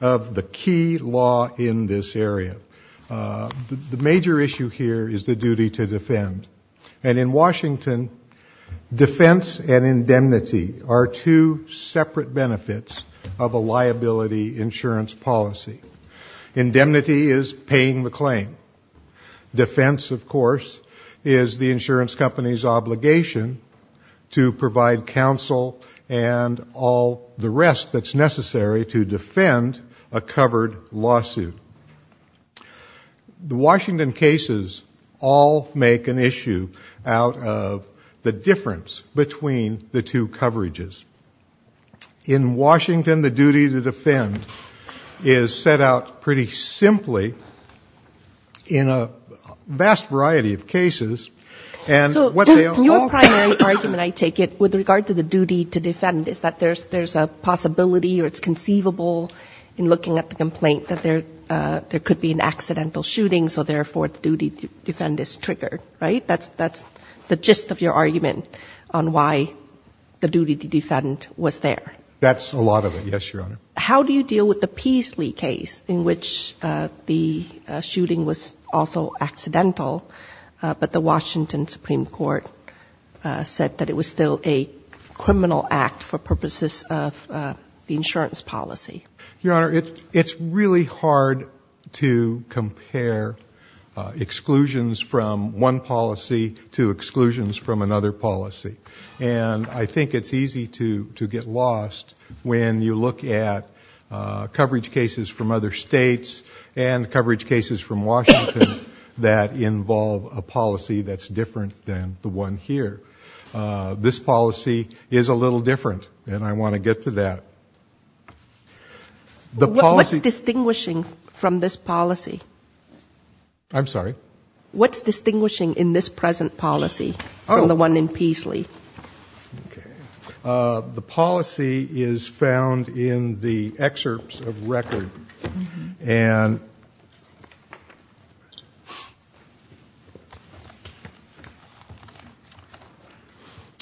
of the key law in this area. The major issue here is the duty to defend. And in Washington, defense and indemnity are two separate benefits of a liability insurance policy. Indemnity is paying the claim. Defense, of course, is the insurance company's obligation to provide counsel and all the rest that's necessary for the insurance company to pay the claim. The Washington cases all make an issue out of the difference between the two coverages. In Washington, the duty to defend is set out pretty simply in a vast variety of cases. And what they all... So your primary argument, I take it, with regard to the duty to defend is that there's a possibility or it's conceivable that in looking at the complaint that there could be an accidental shooting, so therefore the duty to defend is triggered, right? That's the gist of your argument on why the duty to defend was there. That's a lot of it, yes, Your Honor. How do you deal with the Peasley case in which the shooting was also accidental, but the Washington Supreme Court said that it was still a criminal act for purposes of a liability insurance policy? Your Honor, it's really hard to compare exclusions from one policy to exclusions from another policy. And I think it's easy to get lost when you look at coverage cases from other states and coverage cases from Washington that involve a policy that's different than the one here. This policy is a little different, and I want to get to that. What's distinguishing from this policy? I'm sorry? What's distinguishing in this present policy from the one in Peasley? Okay. The policy is found in the excerpts of record, and...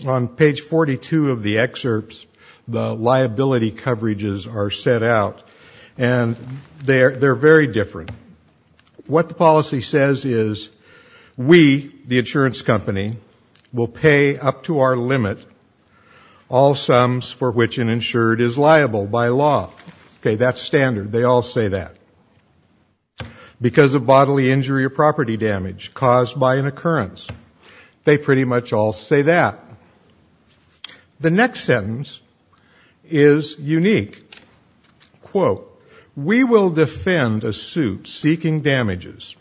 On page 42 of the excerpts, the liability coverages are set out, and they're very different. What the policy says is we, the insurance company, will pay up to our limit all sums for which an insured is liable by law. Okay. That's standard. They all say that. Because of bodily injury or property damage caused by an occurrence. They pretty much all say that. The next sentence is unique. Quote, we will defend a suit seeking damages.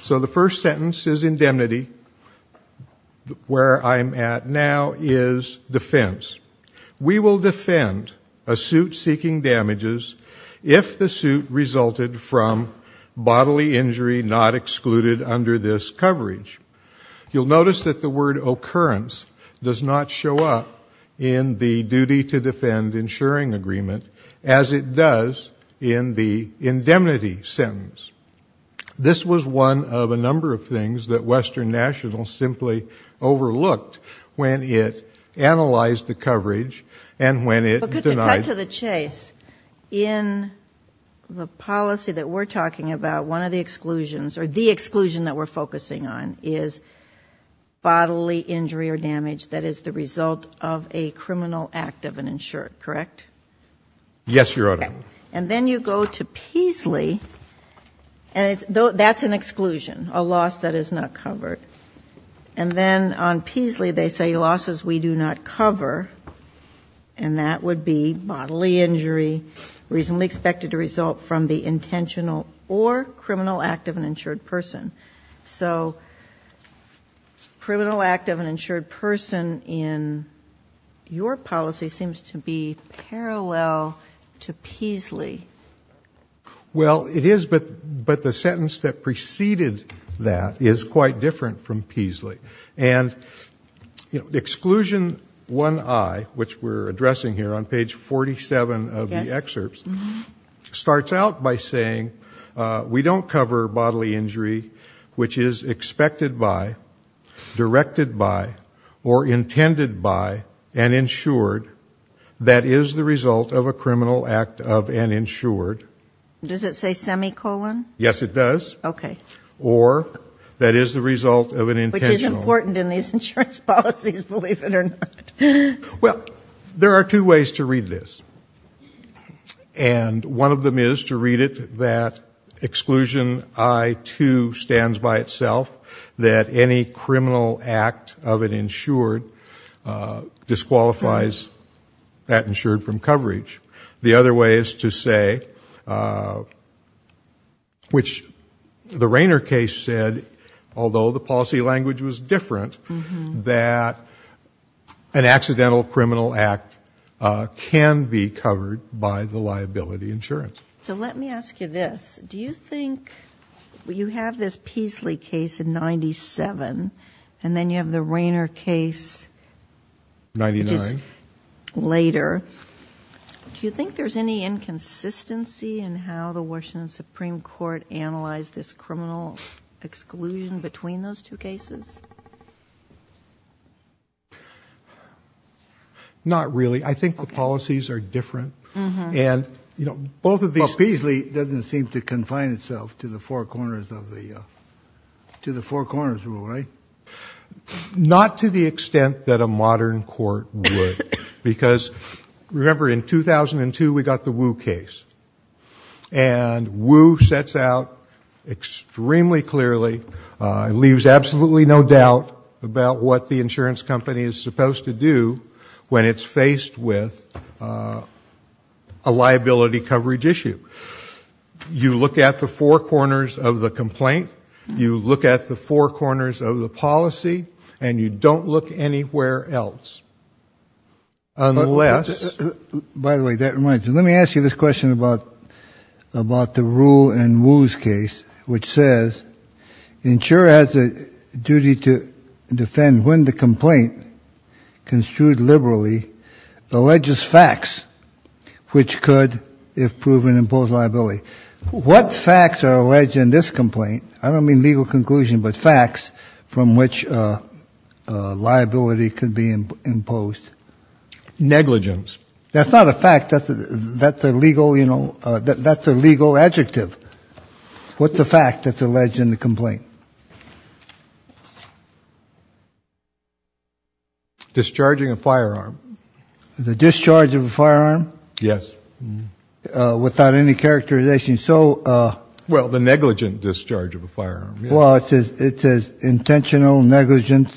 So the first sentence is indemnity. Where I'm at now is defense. We will defend a suit seeking damages if the suit resulted from bodily injury not excluded under this coverage. You'll notice that the word occurrence does not show up in the duty to defend insuring agreement, as it does in the indemnity sentence. This was one of a number of things that Western National simply overlooked when it analyzed the coverage and when it denied... But to cut to the chase, in the policy that we're talking about, one of the exclusions, or the exclusion that we're focusing on, is bodily injury or damage that is the result of a criminal act of an insured, correct? Yes, Your Honor. And then you go to Peasley, and that's an exclusion, a loss that is not covered. And then on Peasley they say losses we do not cover, and that would be bodily injury reasonably expected to result from the intentional or criminal act of an insured person. So criminal act of an insured person in your policy seems to be parallel to Peasley. Well, it is, but the sentence that preceded that is quite different from Peasley. And exclusion 1I, which we're addressing here on page 47 of the excerpts, starts out by saying we don't cover bodily injury which is expected by, directed by, or intended by an insured that is the result of a criminal act of an insured. Does it say semicolon? Yes, it does. Okay. Or that is the result of an intentional. Which is important in these insurance policies, believe it or not. Well, there are two ways to read this. And one of them is to read it that exclusion I2 stands by itself, that any criminal act of an insured which the Rayner case said, although the policy language was different, that an accidental criminal act can be covered by the liability insurance. So let me ask you this. Do you think you have this Peasley case in 97, and then you have the Rayner case later, do you think there's any inconsistency in how the Washington Supreme Court analyzed this criminal exclusion between those two cases? Not really. I think the policies are different. But Peasley doesn't seem to confine itself to the Four Corners rule, right? Not to the extent that a modern court would. Because remember in 2002 we got the Wu case. And Wu sets out extremely clearly, leaves absolutely no doubt about what the insurance company is supposed to do when it's faced with a liability coverage issue. You look at the Four Corners of the complaint, you look at the Four Corners of the policy, and you don't look anywhere else. Unless... By the way, that reminds me, let me ask you this question about the rule in Wu's case, which says insurer has a duty to defend when the complaint construed liberally, alleges facts which could, if proven, impose liability. What facts are alleged in this complaint? I don't mean legal conclusion, but facts from which liability could be imposed. Negligence. That's not a fact, that's a legal adjective. What's a fact that's alleged in the complaint? Discharging a firearm. The discharge of a firearm? Yes. Without any characterization. Well, the negligent discharge of a firearm. Well, it says intentional, negligent,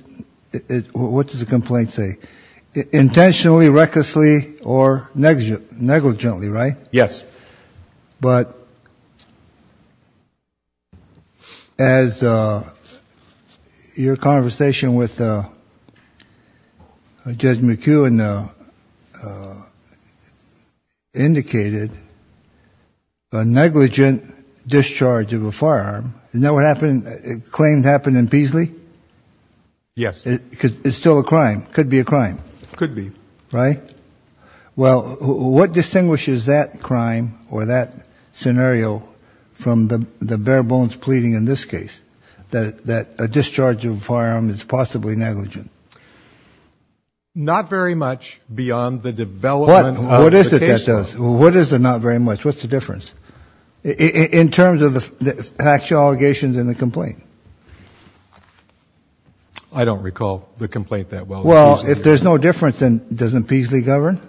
what does the complaint say? Intentionally, recklessly, or negligently, right? Yes. But as your conversation with Judge McEwen indicated, a negligent discharge of a firearm, is that what happened, claims happened in Beasley? Yes. Because it's still a crime, could be a crime. Could be. Right? Well, what distinguishes that crime or that scenario from the bare bones pleading in this case, that a discharge of a firearm is possibly negligent? Not very much beyond the development of the case law. What is it that does? What is the not very much? What's the difference? In terms of the factual allegations in the complaint? I don't recall the complaint that well. Well, if there's no difference, then doesn't Beasley govern?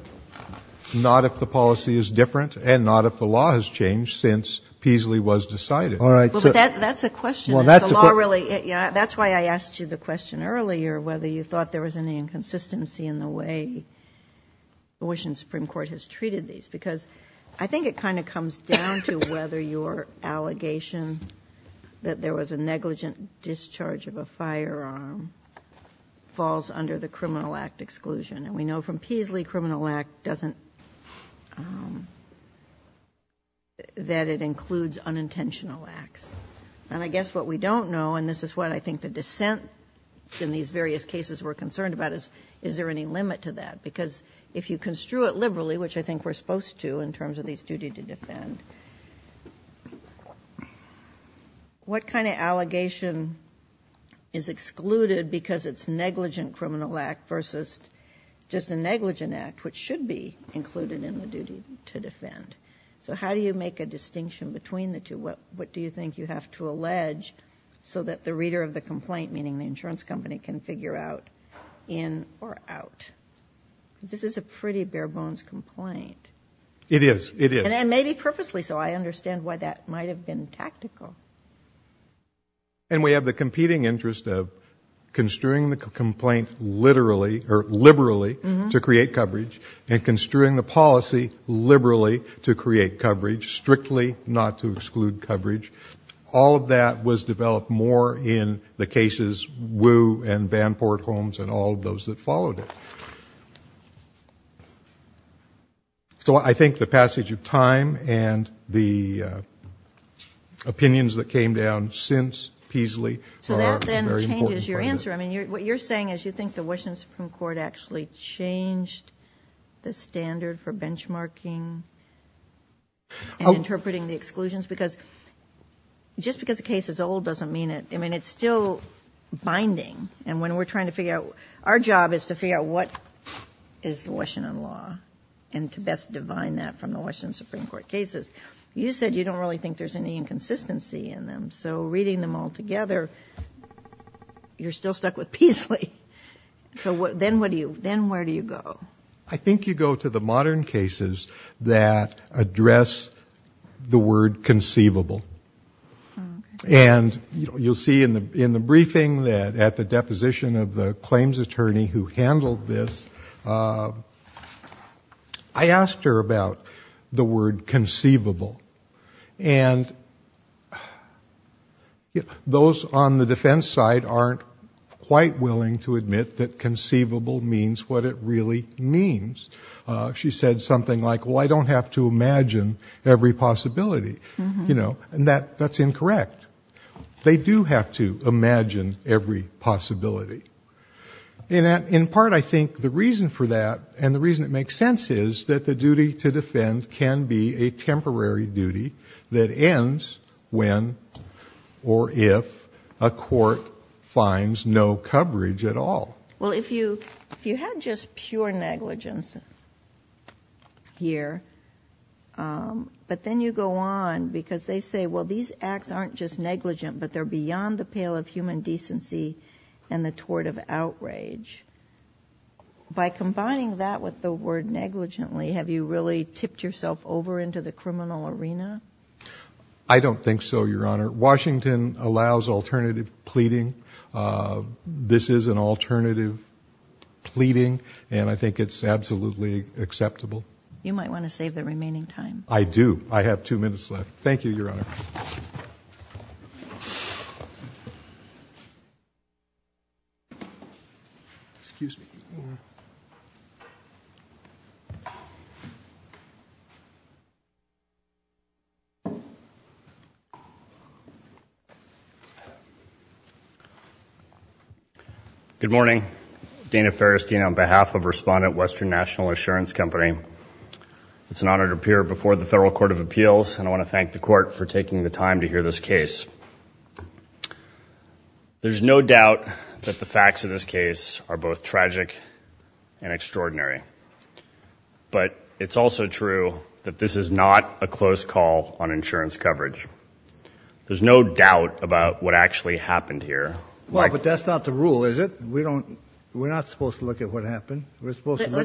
Not if the policy is different, and not if the law has changed since Beasley was decided. Well, that's a question. That's why I asked you the question earlier, whether you thought there was any inconsistency in the way the Washington Supreme Court has treated these. Because I think it kind of comes down to whether your allegation that there was a negligent discharge of a firearm falls under the Criminal Act exclusion. And we know from Beasley Criminal Act doesn't, that it includes unintentional acts. And I guess what we don't know, and this is what I think the dissent in these various cases we're concerned about is, is there any limit to that? Because if you construe it liberally, which I think we're supposed to in terms of these duty to defend, what kind of allegation is excluded because it's negligent Criminal Act versus just a negligent act, which should be included in the duty to defend? So how do you make a distinction between the two? What do you think you have to allege so that the reader of the complaint, meaning the insurance company, can figure out in or out? This is a pretty bare bones complaint. It is. It is. And maybe purposely so. I understand why that might have been tactical. And we have the competing interest of construing the complaint literally, or liberally, to create coverage, and construing the policy liberally to create coverage, strictly not to exclude coverage. All of that was developed more in the cases Wu and Vanport Holmes and all of those that followed it. So I think the passage of time and the opinions that came down since Peasley are very important. So that then changes your answer. I mean, what you're saying is you think the Washington Supreme Court actually changed the standard for benchmarking and interpreting the exclusions? Because just because the case is old doesn't mean it. I mean, it's still binding. And when we're trying to figure out, our job is to figure out what is the Washington law and to best divine that from the Washington Supreme Court cases. You said you don't really think there's any inconsistency in them. So reading them all together, you're still stuck with Peasley. So then where do you go? I think you go to the modern cases that address the word conceivable. And you'll see in the briefing that at the deposition of the claims attorney who handled this, I asked her about the word conceivable. And those on the defense side aren't quite willing to admit that conceivable means what it really means. She said something like, well, I don't have to imagine every possibility. And that's incorrect. They do have to imagine every possibility. In part, I think the reason for that and the reason it makes sense is that the duty to defend can be a temporary duty that ends when or if a court finds no coverage at all. Well, if you had just pure negligence here, but then you go on because they say, well, these acts aren't just negligent, but they're beyond the pale of human decency and the tort of outrage. By combining that with the word negligently, have you really tipped yourself over into the criminal arena? I don't think so, Your Honor. Washington allows alternative pleading. This is an alternative pleading, and I think it's absolutely acceptable. You might want to save the remaining time. I do. I have two minutes left. Thank you, Your Honor. Good morning. Dana Ferristine on behalf of Respondent Western National Insurance Company. It's an honor to appear before the Federal Court of Appeals, and I want to thank the court for taking the time to hear this case. There's no doubt that the facts of this case are both tragic and extraordinary. But it's also true that this is not a close call on insurance coverage. There's no doubt about what actually happened here. Well, but that's not the rule, is it? We're not supposed to look at what happened. Let's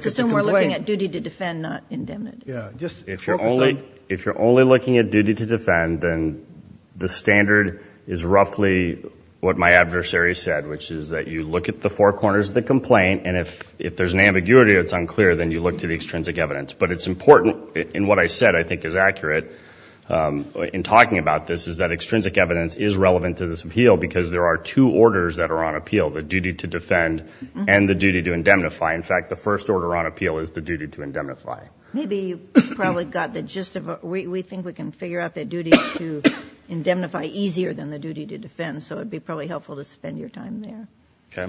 assume we're looking at duty to defend, not indemnity. If you're only looking at duty to defend, then the standard is roughly what my adversary said, which is that you look at the four corners of the complaint, and if there's an ambiguity or it's unclear, then you look to the extrinsic evidence. But it's important, and what I said I think is accurate in talking about this, is that extrinsic evidence is relevant to this appeal because there are two orders that are on appeal, the duty to defend and the duty to indemnify. In fact, the first order on appeal is the duty to indemnify. Maybe you've probably got the gist of it. We think we can figure out that duty to indemnify easier than the duty to defend, so it would be probably helpful to spend your time there. Let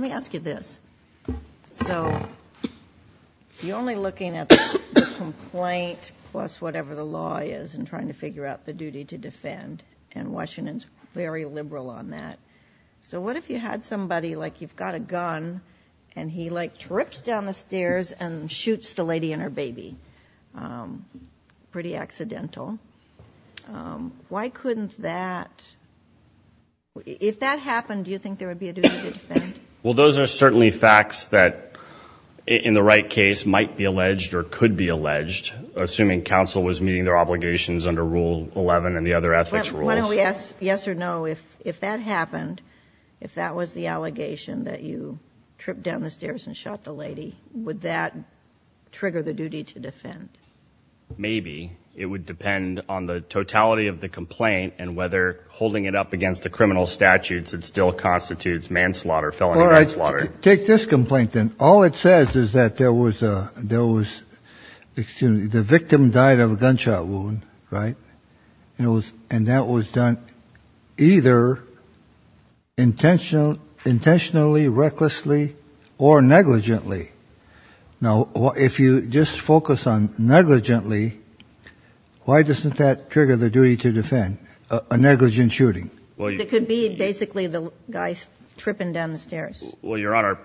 me ask you this. So you're only looking at the complaint plus whatever the law is and trying to figure out the duty to defend, and Washington's very liberal on that. So what if you had somebody, like you've got a gun, and he, like, trips down the stairs and shoots the lady and her baby? Pretty accidental. Why couldn't that ‑‑ if that happened, do you think there would be a duty to defend? Well, those are certainly facts that in the right case might be alleged or could be alleged, assuming counsel was meeting their obligations under Rule 11 and the other ethics rules. Yes or no, if that happened, if that was the allegation, that you tripped down the stairs and shot the lady, would that trigger the duty to defend? Maybe. It would depend on the totality of the complaint and whether holding it up against the criminal statutes, it still constitutes manslaughter, felony manslaughter. All right, take this complaint, then. All it says is that there was a ‑‑ excuse me, the victim died of a gunshot wound, right? And that was done either intentionally, recklessly, or negligently. Now, if you just focus on negligently, why doesn't that trigger the duty to defend, a negligent shooting? It could be basically the guy tripping down the stairs. Well, Your Honor,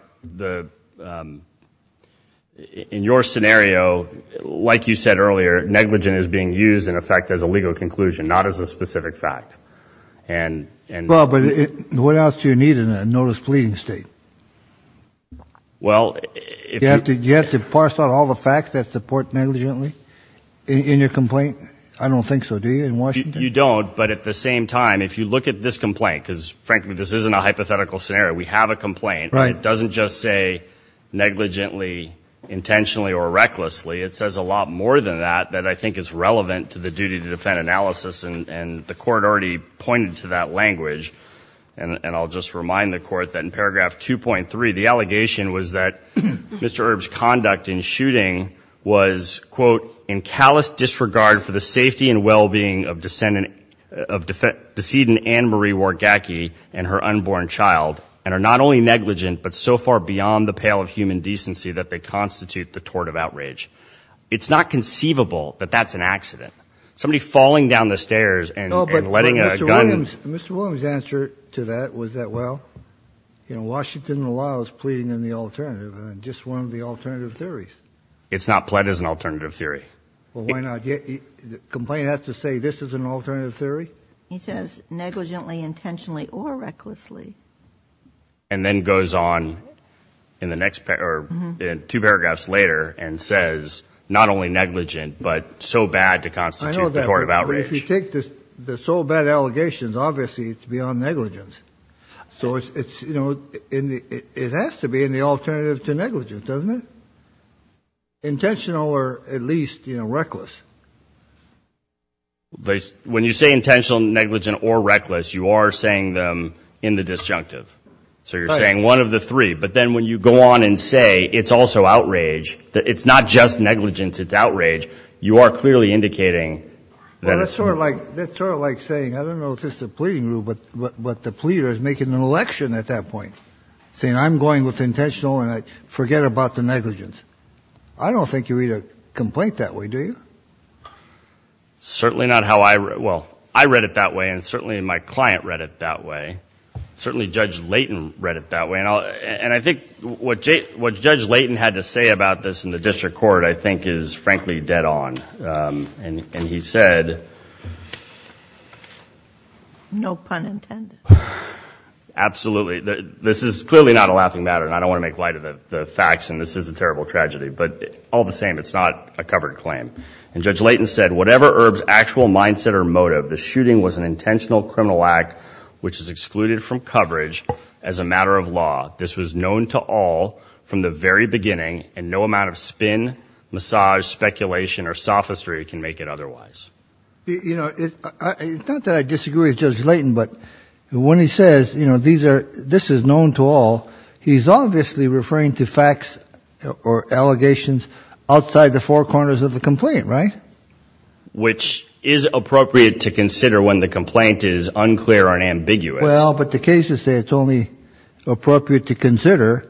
in your scenario, like you said earlier, negligent is being used, in effect, as a legal conclusion, not as a specific fact. Well, but what else do you need in a notice pleading state? You have to parse out all the facts that support negligently in your complaint? I don't think so, do you, in Washington? You don't, but at the same time, if you look at this complaint, because, frankly, this isn't a hypothetical scenario. We have a complaint, and it doesn't just say negligently, intentionally, or recklessly. It says a lot more than that that I think is relevant to the duty to defend analysis, and the Court already pointed to that language, and I'll just remind the Court that in paragraph 2.3, the allegation was that Mr. Erb's conduct in shooting was, quote, in callous disregard for the safety and well‑being of decedent Anne Marie Wargacki and her unborn child, and are not only negligent, but so far beyond the pale of human decency that they constitute the tort of outrage. It's not conceivable that that's an accident. Somebody falling down the stairs and letting a gun... Mr. Williams' answer to that was that, well, Washington allows pleading in the alternative, and just one of the alternative theories. It's not pled as an alternative theory. Well, why not? The complaint has to say this is an alternative theory? He says negligently, intentionally, or recklessly. And then goes on in two paragraphs later and says not only negligent, but so bad to constitute the tort of outrage. I know that, but if you take the so bad allegations, obviously it's beyond negligence. So it's, you know, it has to be in the alternative to negligence, doesn't it? Intentional or at least, you know, reckless. When you say intentional, negligent, or reckless, you are saying them in the disjunctive. So you're saying one of the three, but then when you go on and say it's also outrage, it's not just negligence, it's outrage, you are clearly indicating that it's... It's sort of like saying, I don't know if this is a pleading rule, but the pleader is making an election at that point. Saying I'm going with intentional and forget about the negligence. I don't think you read a complaint that way, do you? Certainly not how I read it. Well, I read it that way, and certainly my client read it that way. Certainly Judge Layton read it that way. And I think what Judge Layton had to say about this in the district court I think is frankly dead on. And he said... No pun intended. Absolutely. This is clearly not a laughing matter, and I don't want to make light of the facts, and this is a terrible tragedy. But all the same, it's not a covered claim. And Judge Layton said, and whatever Erb's actual mindset or motive, the shooting was an intentional criminal act, which is excluded from coverage as a matter of law. This was known to all from the very beginning, and no amount of spin, massage, speculation, or sophistry can make it otherwise. You know, it's not that I disagree with Judge Layton, but when he says, you know, this is known to all, he's obviously referring to facts or allegations outside the four corners of the complaint, right? Which is appropriate to consider when the complaint is unclear or ambiguous. Well, but the cases say it's only appropriate to consider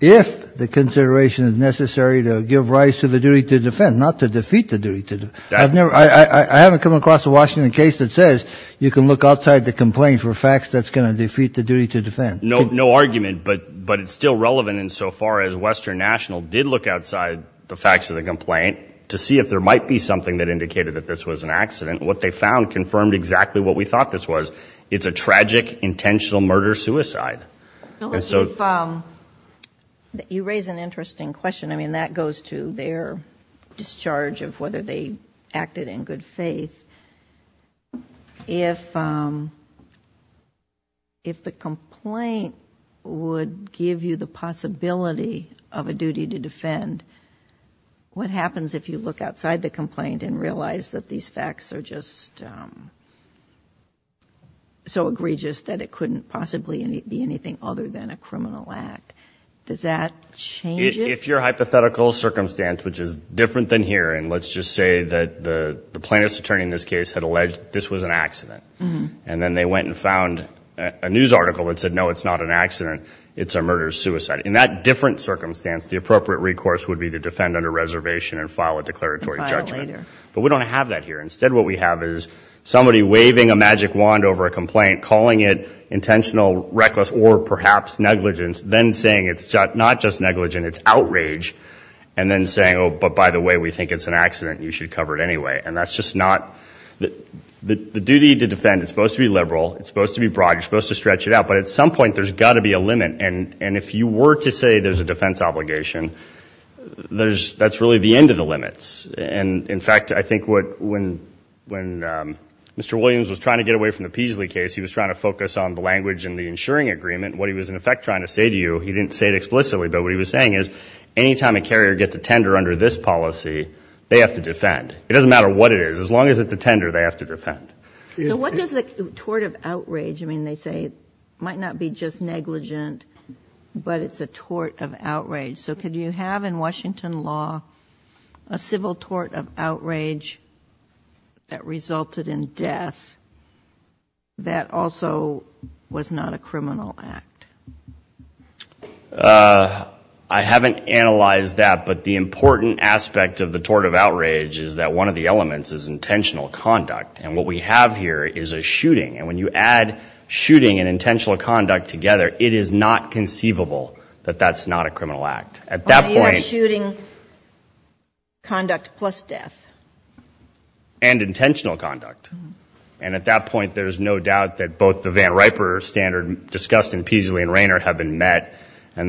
if the consideration is necessary to give rise to the duty to defend, not to defeat the duty to defend. I haven't come across a Washington case that says you can look outside the complaint for facts that's going to defeat the duty to defend. No argument, but it's still relevant insofar as Western National did look outside the facts of the complaint to see if there might be something that indicated that this was an accident. What they found confirmed exactly what we thought this was. It's a tragic, intentional murder-suicide. And so... You raise an interesting question. I mean, that goes to their discharge of whether they acted in good faith. If the complaint would give you the possibility of a duty to defend, what happens if you look outside the complaint and realize that these facts are just so egregious that it couldn't possibly be anything other than a criminal act? Does that change it? If your hypothetical circumstance, which is different than here, and let's just say that the plaintiff's attorney in this case had alleged this was an accident. And then they went and found a news article that said, no, it's not an accident, it's a murder-suicide. In that different circumstance, the appropriate recourse would be to defend under reservation and file a declaratory judgment. But we don't have that here. Instead what we have is somebody waving a magic wand over a complaint, calling it intentional, reckless, or perhaps negligence, then saying it's not just negligence, it's outrage, and then saying, oh, but by the way, we think it's an accident and you should cover it anyway. And that's just not the duty to defend. It's supposed to be liberal. It's supposed to be broad. You're supposed to stretch it out. But at some point there's got to be a limit. And if you were to say there's a defense obligation, that's really the end of the limits. And in fact, I think when Mr. Williams was trying to get away from the Peasley case, he was trying to focus on the language in the insuring agreement. What he was in effect trying to say to you, he didn't say it explicitly, but what he was saying is, any time a carrier gets a tender under this policy, they have to defend. It doesn't matter what it is. As long as it's a tender, they have to defend. So what does the tort of outrage, I mean, they say it might not be just negligent, but it's a tort of outrage. So could you have in Washington law a civil tort of outrage that resulted in death that also was not a criminal act? I haven't analyzed that. But the important aspect of the tort of outrage is that one of the elements is intentional conduct. And what we have here is a shooting. And when you add shooting and intentional conduct together, it is not conceivable that that's not a criminal act. At that point... And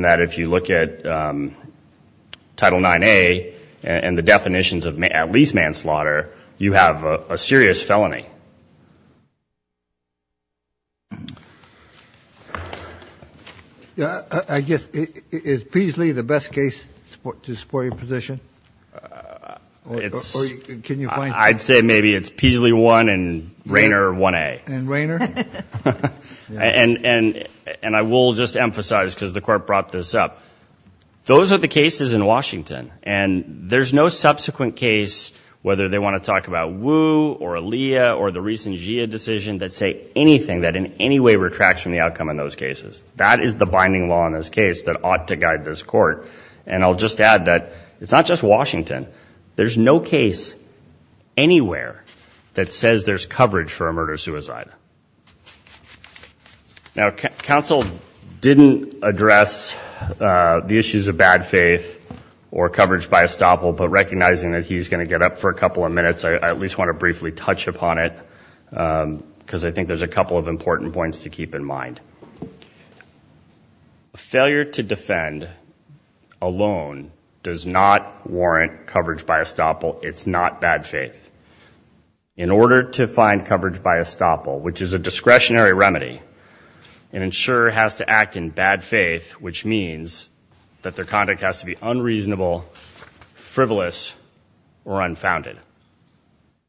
that if you look at Title 9A and the definitions of at least manslaughter, you have a serious felony. I guess, is Peasley the best case to support your position? I'd say maybe it's Peasley 1 and Rainer 1A. And I will just emphasize, because the court brought this up, those are the cases in Washington. And there's no subsequent case, whether they want to talk about Wu or Aaliyah or the recent GIA decision, that say anything that in any way retracts from the outcome in those cases. That is the binding law in this case that ought to guide this court. And I'll just add that it's not just Washington. There's no case anywhere that says there's coverage for a murder-suicide. Now, counsel didn't address the issues of bad faith or coverage by estoppel. But recognizing that he's going to get up for a couple of minutes, I at least want to briefly touch upon it. Because I think there's a couple of important points to keep in mind. A failure to defend alone does not warrant coverage by estoppel. It's not bad faith. In order to find coverage by estoppel, which is a discretionary remedy, an insurer has to act in bad faith, which means that their conduct has to be unreasonable, frivolous, or unfounded.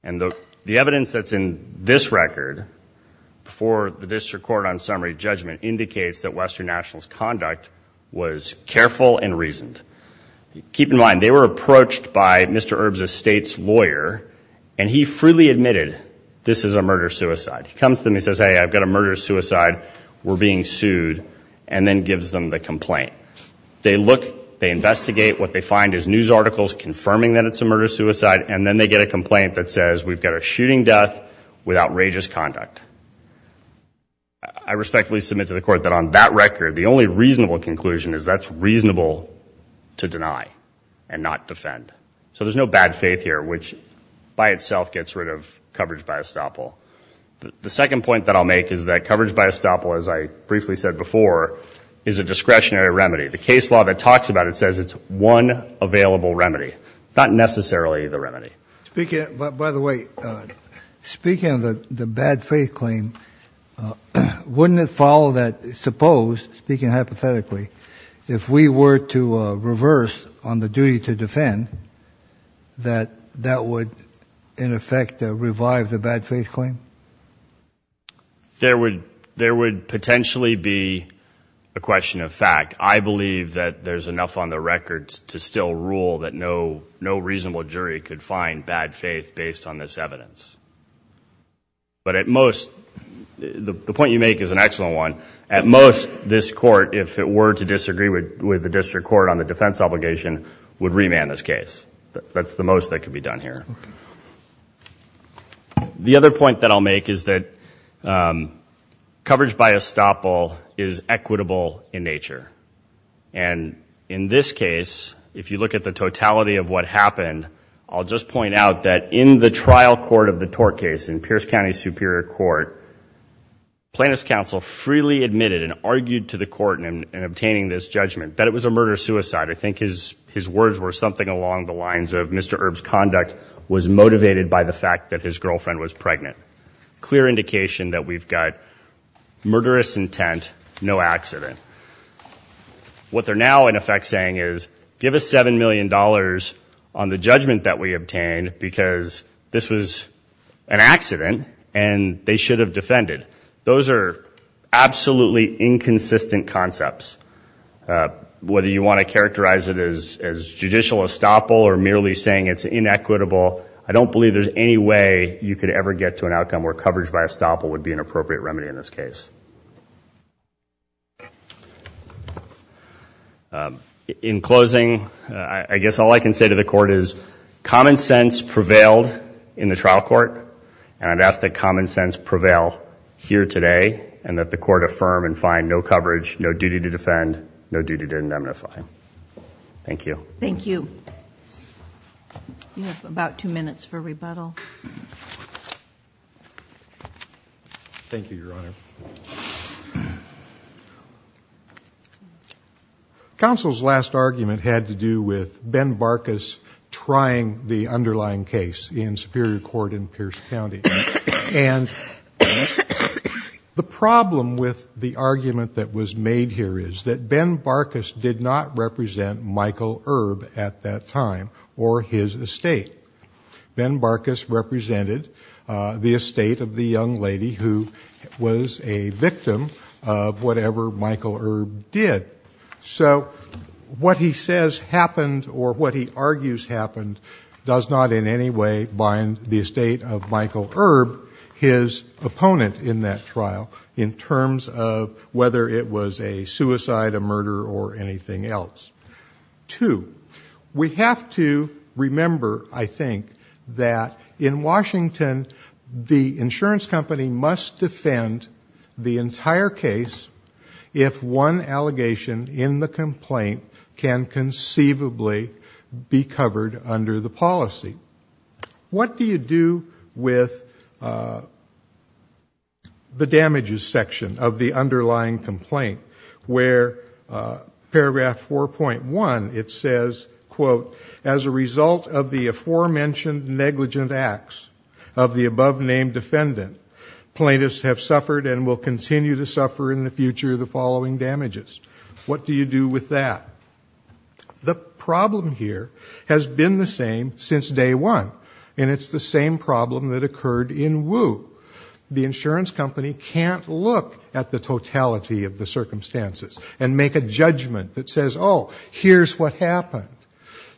And the evidence that's in this record, before the district court on summary judgment, indicates that Western National's conduct was careful and reasoned. Keep in mind, they were approached by Mr. Erb's estate's lawyer, and he freely admitted, this is a murder-suicide. He comes to them and says, hey, I've got a murder-suicide, we're being sued, and then gives them the complaint. They look, they investigate, what they find is news articles confirming that it's a murder-suicide, and then they get a complaint that says we've got a shooting death with outrageous conduct. I respectfully submit to the court that on that record, the only reasonable conclusion is that's reasonable to deny, and not defend. So there's no bad faith here, which by itself gets rid of coverage by estoppel. The second point that I'll make is that coverage by estoppel, as I briefly said before, is a discretionary remedy. The case law that talks about it says it's one available remedy, not necessarily the remedy. By the way, speaking of the bad faith claim, wouldn't it follow that, suppose, speaking hypothetically, if we were to reverse on the duty to defend, that that would, in effect, revive the bad faith claim? There would potentially be a question of fact. I believe that there's enough on the record to still rule that no reasonable jury could find bad faith based on this evidence. But at most, the point you make is an excellent one. At most, this court, if it were to disagree with the district court on the defense obligation, would remand this case. That's the most that could be done here. The other point that I'll make is that coverage by estoppel is equitable in nature. And in this case, if you look at the totality of what happened, I'll just point out that in the trial court of the tort case in Pierce County Superior Court, plaintiff's counsel freely admitted and argued to the court in obtaining this judgment that it was a murder-suicide. I think his words were something along the lines of Mr. Erb's conduct was motivated by the fact that his girlfriend was pregnant. Clear indication that we've got murderous intent, no accident. What they're now, in effect, saying is give us $7 million on the judgment that we obtained, because this was an accident and they should have defended. Those are absolutely inconsistent concepts. Whether you want to characterize it as judicial estoppel or merely saying it's inequitable, I don't believe there's any way you could ever get to an outcome where coverage by estoppel would be an appropriate remedy in this case. In closing, I guess all I can say to the court is common sense prevailed in the trial court, and I'd ask that common sense prevail here today, and that the court affirm and find no coverage, no duty to defend, no duty to indemnify. Thank you. Counsel's last argument had to do with Ben Barkas trying the underlying case in Superior Court in Pierce County, and the problem with the argument that was made here is that Ben Barkas did not represent Michael Erb at that time or his estate. Ben Barkas represented the estate of the young lady who was a victim of whatever Michael Erb did. So what he says happened or what he argues happened does not in any way bind the estate of Michael Erb. His opponent in that trial in terms of whether it was a suicide, a murder, or anything else. Two, we have to remember, I think, that in Washington, the insurance company must defend the entire case if one allegation in the complaint can conceivably be covered under the policy. What do you do with the damages section of the underlying complaint where paragraph 4.1, it says, quote, as a result of the aforementioned negligent acts of the above-named defendant, plaintiffs have suffered and will continue to suffer in the future the following damages. What do you do with that? And it's the same problem that occurred in Wu. The insurance company can't look at the totality of the circumstances and make a judgment that says, oh, here's what happened.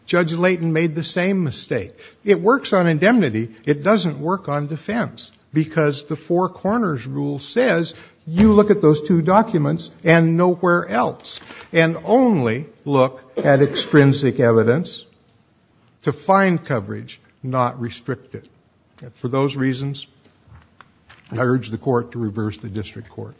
Judge Leighton made the same mistake. It works on indemnity. It doesn't work on defense, because the four corners rule says you look at those two documents and nowhere else. It's not restricted. For those reasons, I urge the court to reverse the district court.